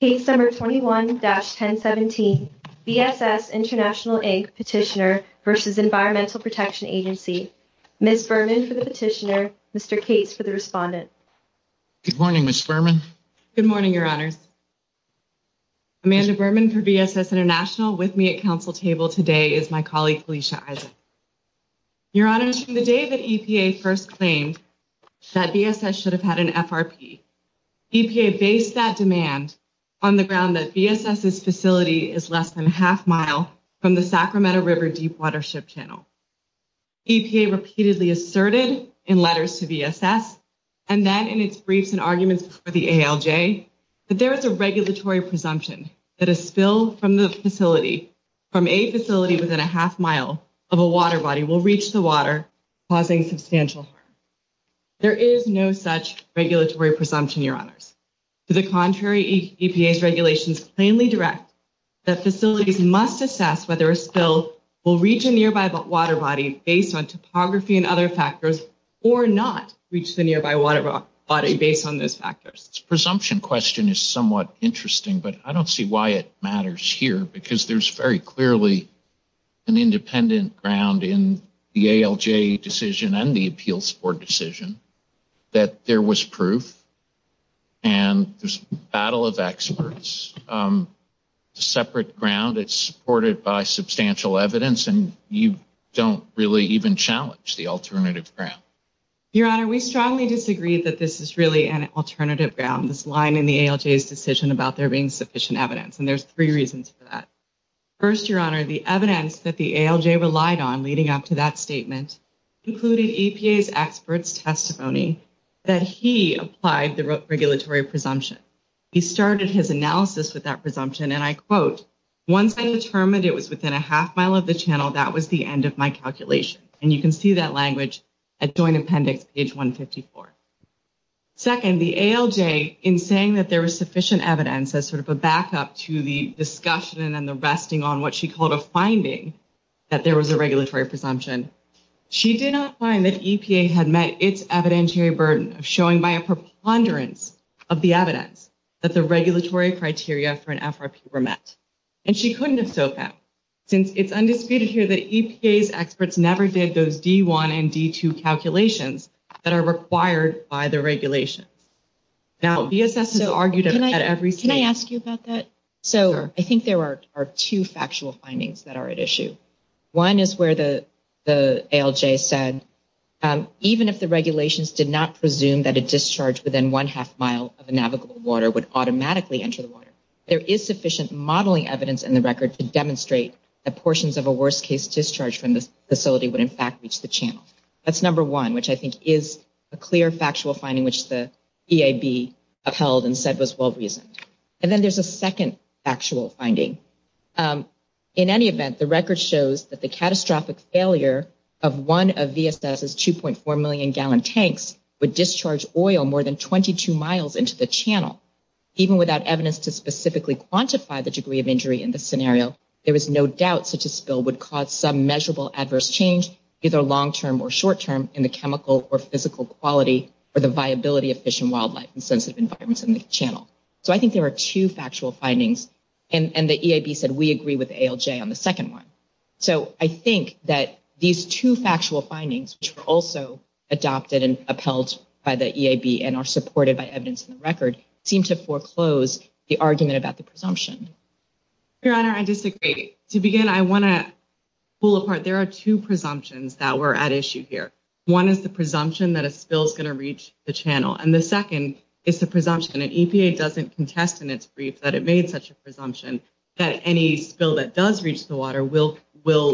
Petitioner v. Environmental Protection Agency. Ms. Berman for the petitioner, Mr. Cates for the respondent. Good morning, Ms. Berman. Good morning, Your Honors. Amanda Berman for VSS International with me at Council Table today is my colleague Felicia Issa. Your Honors, from the day that EPA first claimed that VSS should have had an FRP, EPA based that demand on the ground that VSS's facility is less than a half-mile from the Sacramento River Deep Watership Channel. EPA repeatedly asserted in letters to VSS and then in its briefs and arguments before the ALJ that there is a regulatory presumption that a spill from the facility, from a facility within a half-mile of a water body, will reach the water, causing substantial harm. There is no such regulatory presumption, Your Honors. To the contrary, EPA's regulations plainly direct that facilities must assess whether a spill will reach a nearby water body based on topography and other factors or not reach the nearby water body based on those factors. The presumption question is somewhat interesting, but I don't see why it matters here because there's very clearly an independent ground in the ALJ decision and the Appeals Board decision that there was proof and there's a battle of experts. It's a separate ground. It's supported by substantial evidence and you don't really even challenge the alternative ground. Your Honor, we strongly disagree that this is really an alternative ground, this line in the ALJ's decision about there being sufficient evidence, and there's three reasons for that. First, Your Honor, the evidence that the ALJ relied on leading up to that statement included EPA's experts' testimony that he applied the regulatory presumption. He started his analysis with that presumption and I quote, once I determined it was within a half-mile of the channel, that was the end of my calculation. And you can see that language at Joint Appendix, page 154. Second, the ALJ, in saying that there was sufficient evidence as sort of a backup to the discussion and the resting on what she called a finding that there was a regulatory presumption, she did not find that EPA had met its evidentiary burden of showing by a preponderance of the evidence that the regulatory criteria for an FRP were met. And she couldn't have so found since it's undisputed here that EPA's experts never did those D1 and D2 calculations that are required by the regulations. Now, BSS has argued at every stage. Can I ask you about that? So I think there are two factual findings that are at issue. One is where the ALJ said, even if the regulations did not presume that a discharge within one half-mile of a navigable water would automatically enter the water, there is sufficient modeling evidence in the record to demonstrate that portions of a worst-case discharge from the facility would in fact reach the channel. That's number one, which I think is a clear And then there's a second actual finding. In any event, the record shows that the catastrophic failure of one of VSS's 2.4 million gallon tanks would discharge oil more than 22 miles into the channel. Even without evidence to specifically quantify the degree of injury in this scenario, there is no doubt such a spill would cause some measurable adverse change either long-term or short-term in the chemical or physical quality or the viability of fish and wildlife in sensitive environments in the channel. So I think there are two factual findings. And the EAB said, we agree with ALJ on the second one. So I think that these two factual findings, which were also adopted and upheld by the EAB and are supported by evidence in the record, seem to foreclose the argument about the presumption. Your Honor, I disagree. To begin, I want to pull apart. There are two presumptions that were at issue here. One is the presumption that a spill is going to reach the channel. And the second is the presumption that EPA doesn't contest in its brief that it made such a presumption that any spill that does reach the water will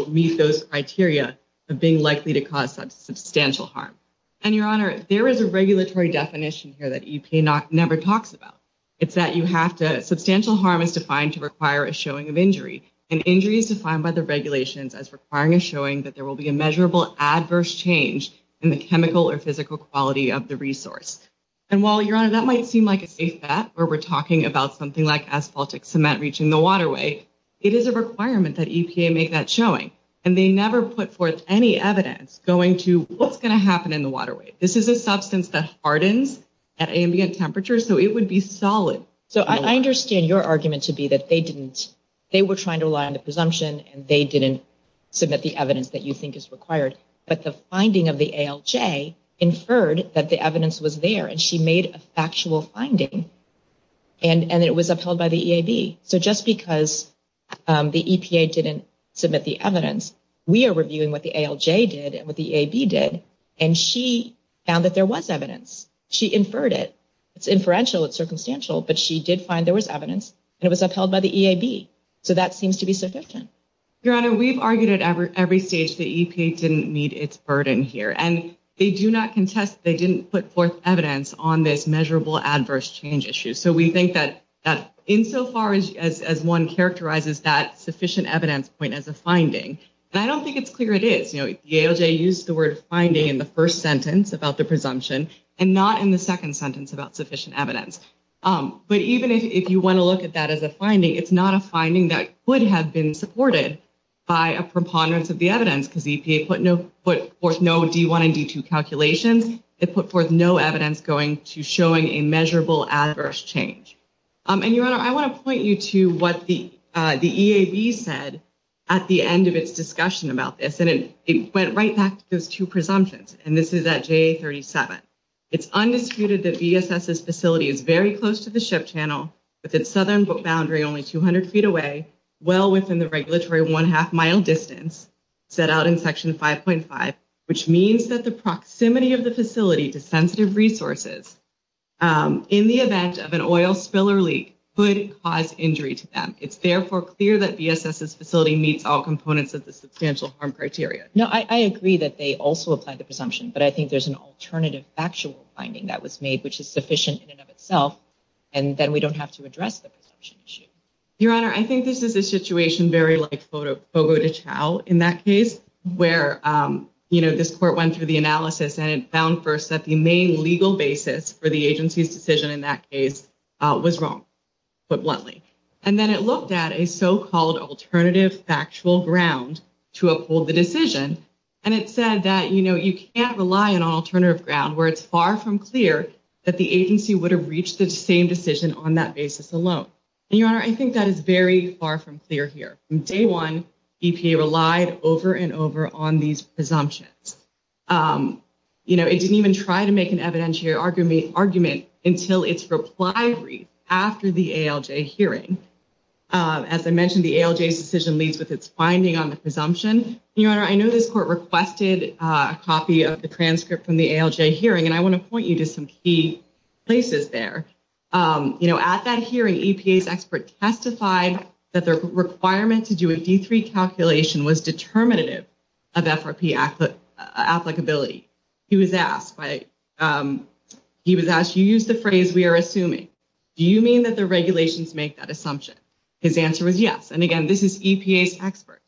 meet those criteria of being likely to cause substantial harm. And Your Honor, there is a regulatory definition here that EPA never talks about. It's that substantial harm is defined to require a showing of injury. And injury is defined by the regulations as requiring a showing that there will be measurable adverse change in the chemical or physical quality of the resource. And while, Your Honor, that might seem like a safe bet where we're talking about something like asphaltic cement reaching the waterway, it is a requirement that EPA make that showing. And they never put forth any evidence going to what's going to happen in the waterway. This is a substance that hardens at ambient temperatures, so it would be solid. So I understand your argument to be that they didn't, they were trying to rely on the presumption and they didn't submit the evidence that you think is required. But the finding of the ALJ inferred that the evidence was there, and she made a factual finding, and it was upheld by the EAB. So just because the EPA didn't submit the evidence, we are reviewing what the ALJ did and what the EAB did, and she found that there was evidence. She inferred it. It's inferential, it's circumstantial, but she did find there was evidence, and it seems to be sufficient. Your Honor, we've argued at every stage that EPA didn't meet its burden here, and they do not contest that they didn't put forth evidence on this measurable adverse change issue. So we think that insofar as one characterizes that sufficient evidence point as a finding, and I don't think it's clear it is. The ALJ used the word finding in the first sentence about the presumption and not in the second sentence about sufficient evidence. But even if you want to look at that as a finding, it's not a finding that could have been supported by a preponderance of the evidence, because EPA put forth no D1 and D2 calculations. It put forth no evidence going to showing a measurable adverse change. And, Your Honor, I want to point you to what the EAB said at the end of its discussion about this, and it went right back to those two presumptions, and this is at JA-37. It's undisputed that VSS's facility is very close to the ship channel within southern boundary, only 200 feet away, well within the regulatory one-half mile distance set out in Section 5.5, which means that the proximity of the facility to sensitive resources in the event of an oil spill or leak could cause injury to them. It's therefore clear that VSS's facility meets all components of the substantial harm criteria. No, I agree that they also applied the presumption, but I think there's an alternative factual finding that was made, which is sufficient in and of itself, and then we don't have to address the presumption issue. Your Honor, I think this is a situation very like Fogo de Chao in that case, where, you know, this court went through the analysis and it found first that the main legal basis for the agency's decision in that case was wrong, put bluntly. And then it looked at a so-called alternative factual ground to uphold the decision, and it said that, you know, you can't rely on an alternative ground where it's far from clear that the agency would have reached the same decision on that basis alone. And, Your Honor, I think that is very far from clear here. From day one, EPA relied over and over on these presumptions. You know, it didn't even try to make an evidentiary argument until its reply brief after the ALJ hearing. As I mentioned, the ALJ's decision leads with its finding on the presumption. And, Your Honor, I know this court requested a copy of the transcript from the ALJ hearing, and I want to point you to some key places there. You know, at that hearing, EPA's expert testified that the requirement to do a D3 calculation was determinative of FRP applicability. He was asked, he was asked, you used the phrase we are assuming. Do you mean that the regulations make that assumption? His answer was yes. And, again, this is EPA's expert.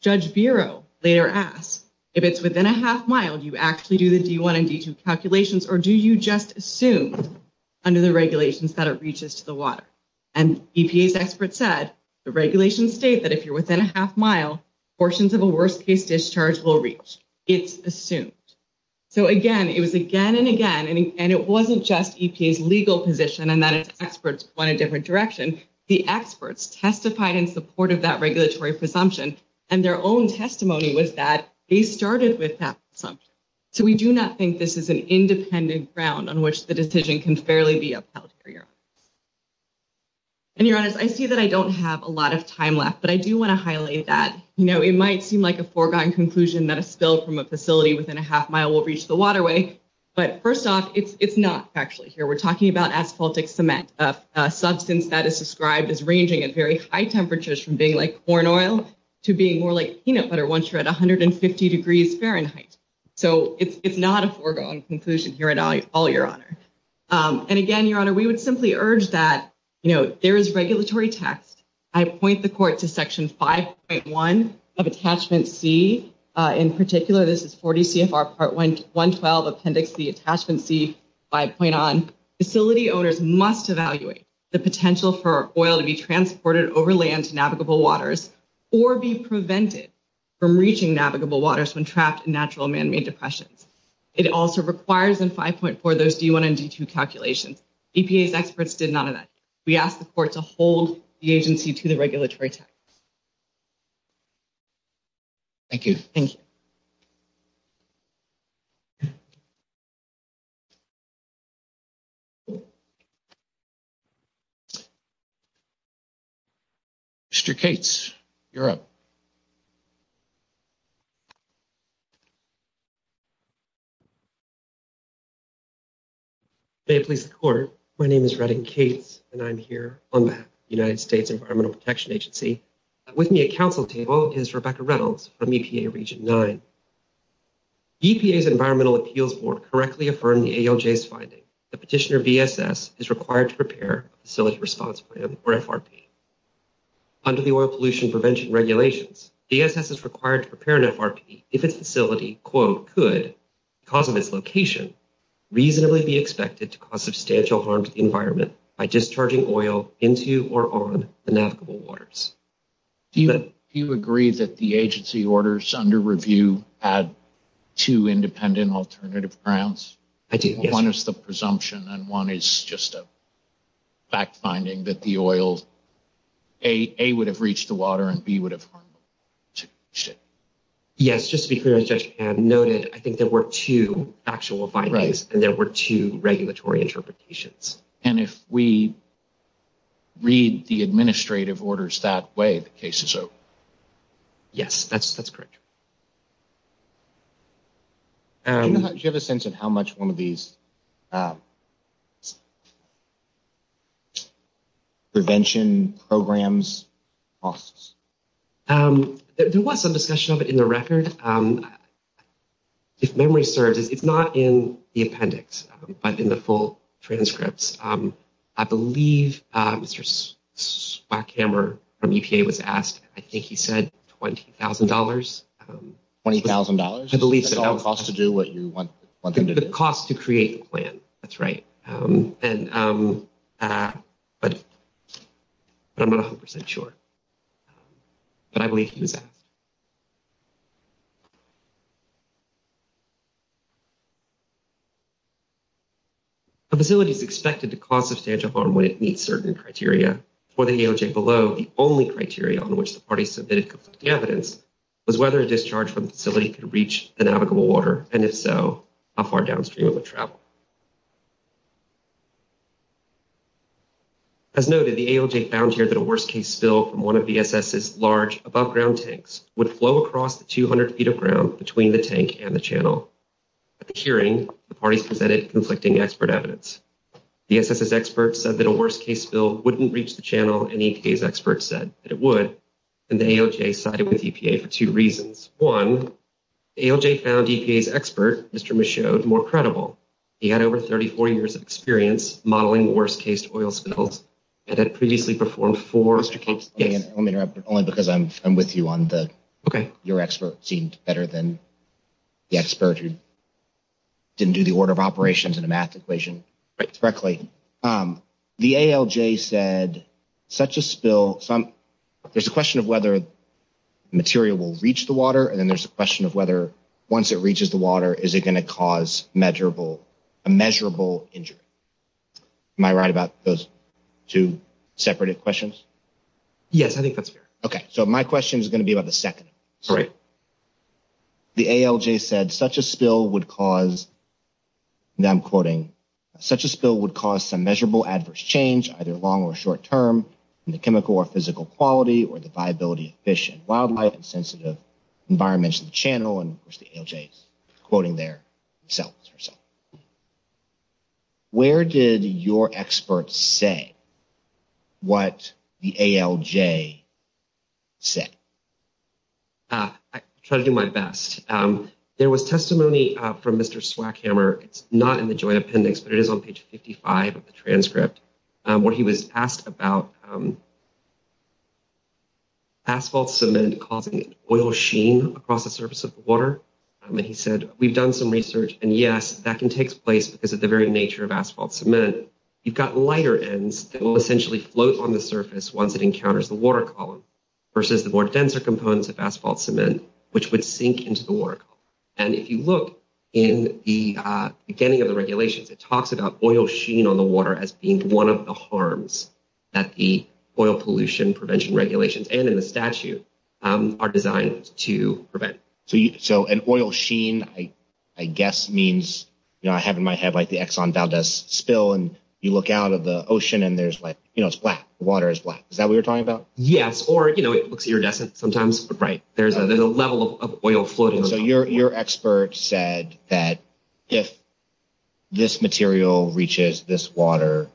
Judge Bureau later asked, if it's within a half mile, do you actually do the D1 and D2 calculations, or do you just assume under the regulations that it reaches to the water? And EPA's expert said, the regulations state that if you're within a half mile, portions of a worst case discharge will reach. It's assumed. So, again, it was again and again, and it wasn't just EPA's legal position and that its experts went a different direction. The experts testified in support of that regulatory presumption, and their own testimony was that they started with that presumption. So, we do not think this is an independent ground on which the decision can fairly be upheld here. And, Your Honor, I see that I don't have a lot of time left, but I do want to highlight that. You know, it might seem like a foregone conclusion that a spill from a facility within a half mile will reach the waterway, but first off, it's not actually here. We're talking about asphaltic cement, a substance that is described as ranging at very high temperatures from being like corn oil to being more like peanut butter once you're at 150 degrees Fahrenheit. So, it's not a foregone conclusion here at all, Your Honor. And again, Your Honor, we would simply urge that, you know, there is regulatory text. I point the court to Section 5.1 of Attachment C. In particular, this is 40 CFR Part 112 Appendix C, Attachment C, 5.1. Facility owners must evaluate the potential for oil to be transported over land to navigable waters or be prevented from reaching navigable waters when trapped in natural man-made depressions. It also requires in 5.4 those D1 and D2 calculations. EPA's experts did none of that. We ask the court to hold the agency to the regulatory text. Thank you. Thank you. Mr. Cates, you're up. May it please the court, my name is Redding Cates and I'm here on behalf of the United States Environmental Protection Agency. With me at counsel table is Rebecca Reynolds from EPA Region 9. EPA's Environmental Appeals Board correctly affirmed the ALJ's finding that Petitioner BSS is required to prepare a facility response plan or FRP. Under the Oil Pollution Prevention Regulations, BSS is required to prepare an FRP if its facility, quote, could, because of its location, reasonably be expected to cause substantial harm to the environment by discharging oil into or on navigable waters. Do you agree that the agency orders under review had two independent alternative grounds? I do, yes. One is the presumption and one is just a fact-finding that the oil, A, would have reached the water and B, would have harmed it. Yes, just to be clear as Judge had noted, I think there were two actual findings and there were two regulatory interpretations. And if we read the administrative orders that way, the case is over? Yes, that's correct. Do you have a sense of how much one of these prevention programs costs? There was some discussion of it in the record. If memory serves, it's not in the appendix, but in the full transcripts. I believe Mr. Blackhammer from EPA was asked, I think he said $20,000. $20,000? I believe so. The cost to do what you want them to do? The cost to create the plan, that's right. But I'm not 100% sure, but I believe he was asked. A facility is expected to cause substantial harm when it meets certain criteria. For the ALJ below, the only criteria on which the party submitted conflicting evidence was whether a discharge from the facility could reach the navigable water, and if so, how far downstream it would travel. As noted, the ALJ found here that a worst-case spill from one of VSS's large above-ground tanks would flow across the 200 feet of ground between the tank and the channel. At the hearing, the parties presented conflicting expert evidence. The SSS experts said that a worst-case spill wouldn't reach the channel, and EPA's experts said that it would, and the ALJ sided with EPA for two reasons. One, the ALJ found EPA's expert, Mr. Michaud, more credible. He had over 34 years of experience modeling worst-case oil spills and had previously performed Mr. Capes, let me interrupt, but only because I'm with you on the, okay, your expert seemed better than the expert who didn't do the order of operations in a math equation correctly. The ALJ said such a spill, there's a question of whether the material will reach the water, and then there's a question of whether once it reaches the water, is it going to cause measurable, a measurable injury. Am I right about those two separated questions? Yes, I think that's fair. Okay, so my question is going to be about the second. Great. The ALJ said such a spill would cause, now I'm quoting, such a spill would cause some measurable adverse change either long or short term in the chemical or physical quality or the viability of fish and wildlife and sensitive environments of the channel, and of course the ALJ is quoting there themselves. Where did your expert say what the ALJ said? I try to do my best. There was testimony from Mr. Swackhammer, it's not in the joint appendix, but it is on page 55 of the transcript, where he was asked about asphalt cement causing oil sheen across the surface of the water, and he said, we've done some research, and yes, that can take place because of the very nature of asphalt cement. You've got lighter ends that will essentially float on the surface once it encounters the water column versus the more denser components of asphalt cement, which would sink into the water column, and if you look in the beginning of the regulations, it talks about oil sheen on the water as being one of the harms that the oil pollution prevention regulations, and in the statute, are designed to prevent. So an oil sheen I guess means, you know, I have in my head like the Exxon Valdez spill, and you look out of the ocean, and there's like, you know, it's black. The water is black. Is that what you're talking about? Yes, or you know, it looks iridescent sometimes. Right. There's a level of oil floating. So your expert said that if this material reaches this water,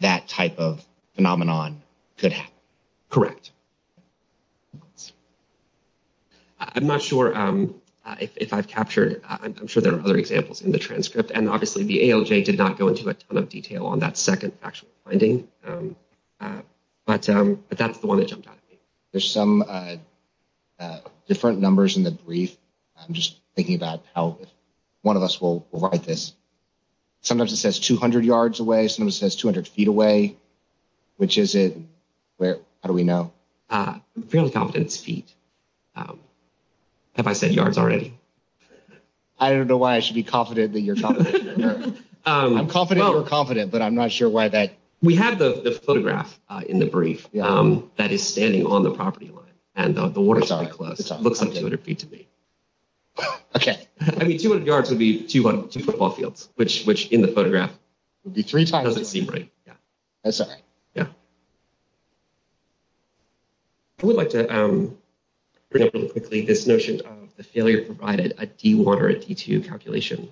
that type of phenomenon could happen. Correct. I'm not sure if I've captured, I'm sure there are other examples in the transcript, and obviously the ALJ did not go into a ton of detail on that second actual finding, but that's the one that jumped out at me. There's some different numbers in the brief. I'm just thinking about how one of us will write this. Sometimes it says 200 yards away. Sometimes it says 200 feet away. Which is it? How do we know? I'm fairly confident it's feet. Have I said yards already? I don't know why I should be confident that you're confident. I'm confident you're confident, but I'm not sure why that. We have the photograph in the brief that is standing on the property and the water is pretty close. It looks like 200 feet to me. Okay. I mean, 200 yards would be two football fields, which in the photograph would be three times. It doesn't seem right. That's all right. Yeah. I would like to bring up really quickly this notion of the failure provided at D1 or D2 calculation.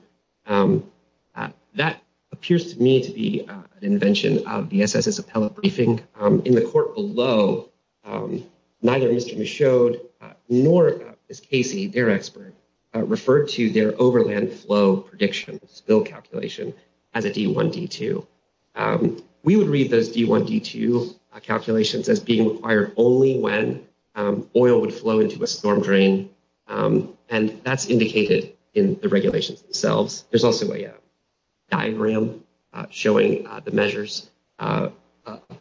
That appears to me to be an invention of the SSS appellate briefing. In the court below, neither Mr. Michaud nor Ms. Casey, their expert, referred to their overland flow prediction spill calculation as a D1, D2. We would read those D1, D2 calculations as being required only when oil would flow into a storm drain. That's indicated in the regulations themselves. There's also a diagram showing the measures of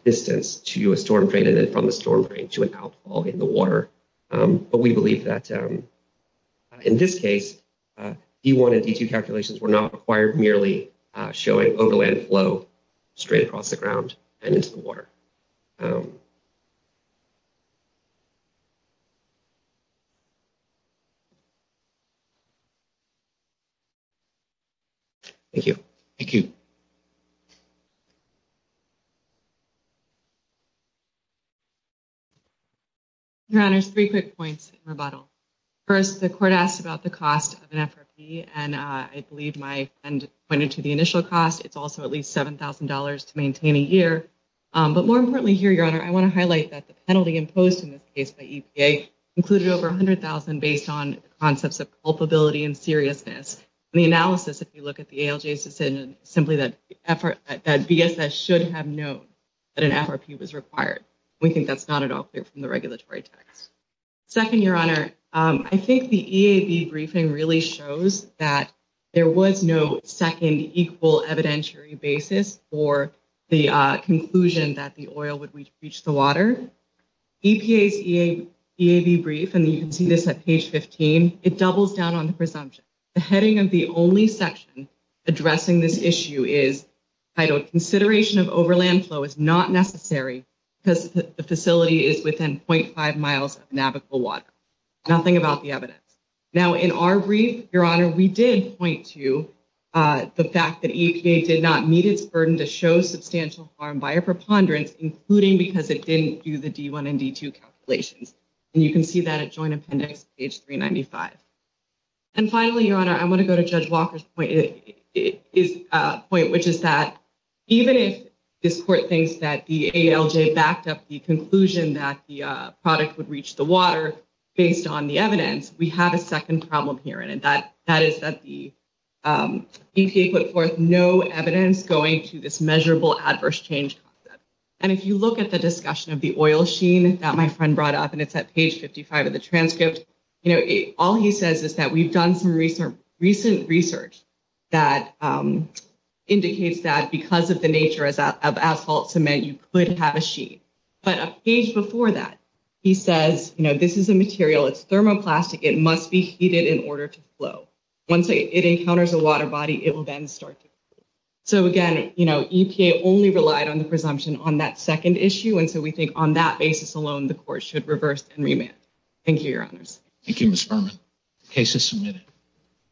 distance to a storm drain and then from the storm drain to an outfall in the water. But we believe that in this case, D1 and D2 calculations were not required merely showing overland flow straight across the ground and into the water. Thank you. Thank you. Your honors, three quick points in rebuttal. First, the court asked about the cost of an FRP and I believe my friend pointed to the initial cost. It's also at least $7,000 to maintain a year. But more importantly here, your honor, I want to highlight that the penalty imposed in this case by EPA included over $100,000 based on concepts of culpability and seriousness. The analysis, if you look at the ALJ's decision, simply that BSS should have known that an FRP was required. We think that's not at all clear from the regulatory text. Second, your honor, I think the EAB briefing really shows that there was no second equal evidentiary basis for the conclusion that the oil would reach the water. EPA's EAB brief, and you can see this at page 15, it doubles down on the presumption. The heading of the only section addressing this issue is titled consideration of overland flow is not necessary because the facility is within 0.5 miles of navigable water. Nothing about the evidence. Now in our brief, your honor, we did point to the fact that EPA did not meet its burden to show substantial harm by a preponderance, including because it didn't do the D1 and D2 calculations. And you can see that at joint appendix page 395. And finally, your honor, I want to go to Judge Walker's point, which is that even if this court thinks that the ALJ backed up the conclusion that the product would reach the water based on the evidence, we have a second problem here. And that is that the EPA put forth no evidence going to this measurable adverse change concept. And if you look at the discussion of the oil sheen that my friend brought up, and it's at page 55 of the transcript, you know, all he says is that we've done some recent research that indicates that because of the nature of asphalt cement, you could have a sheet. But a page before that, he says, you know, this is a material, it's thermoplastic, it must be heated in order to flow. Once it encounters a water body, it will then start. So again, you know, EPA only relied on the presumption on that second issue. And so we think on that basis alone, the court should reverse and remand. Thank you, your honors. Thank you, Ms. Furman. Case is submitted.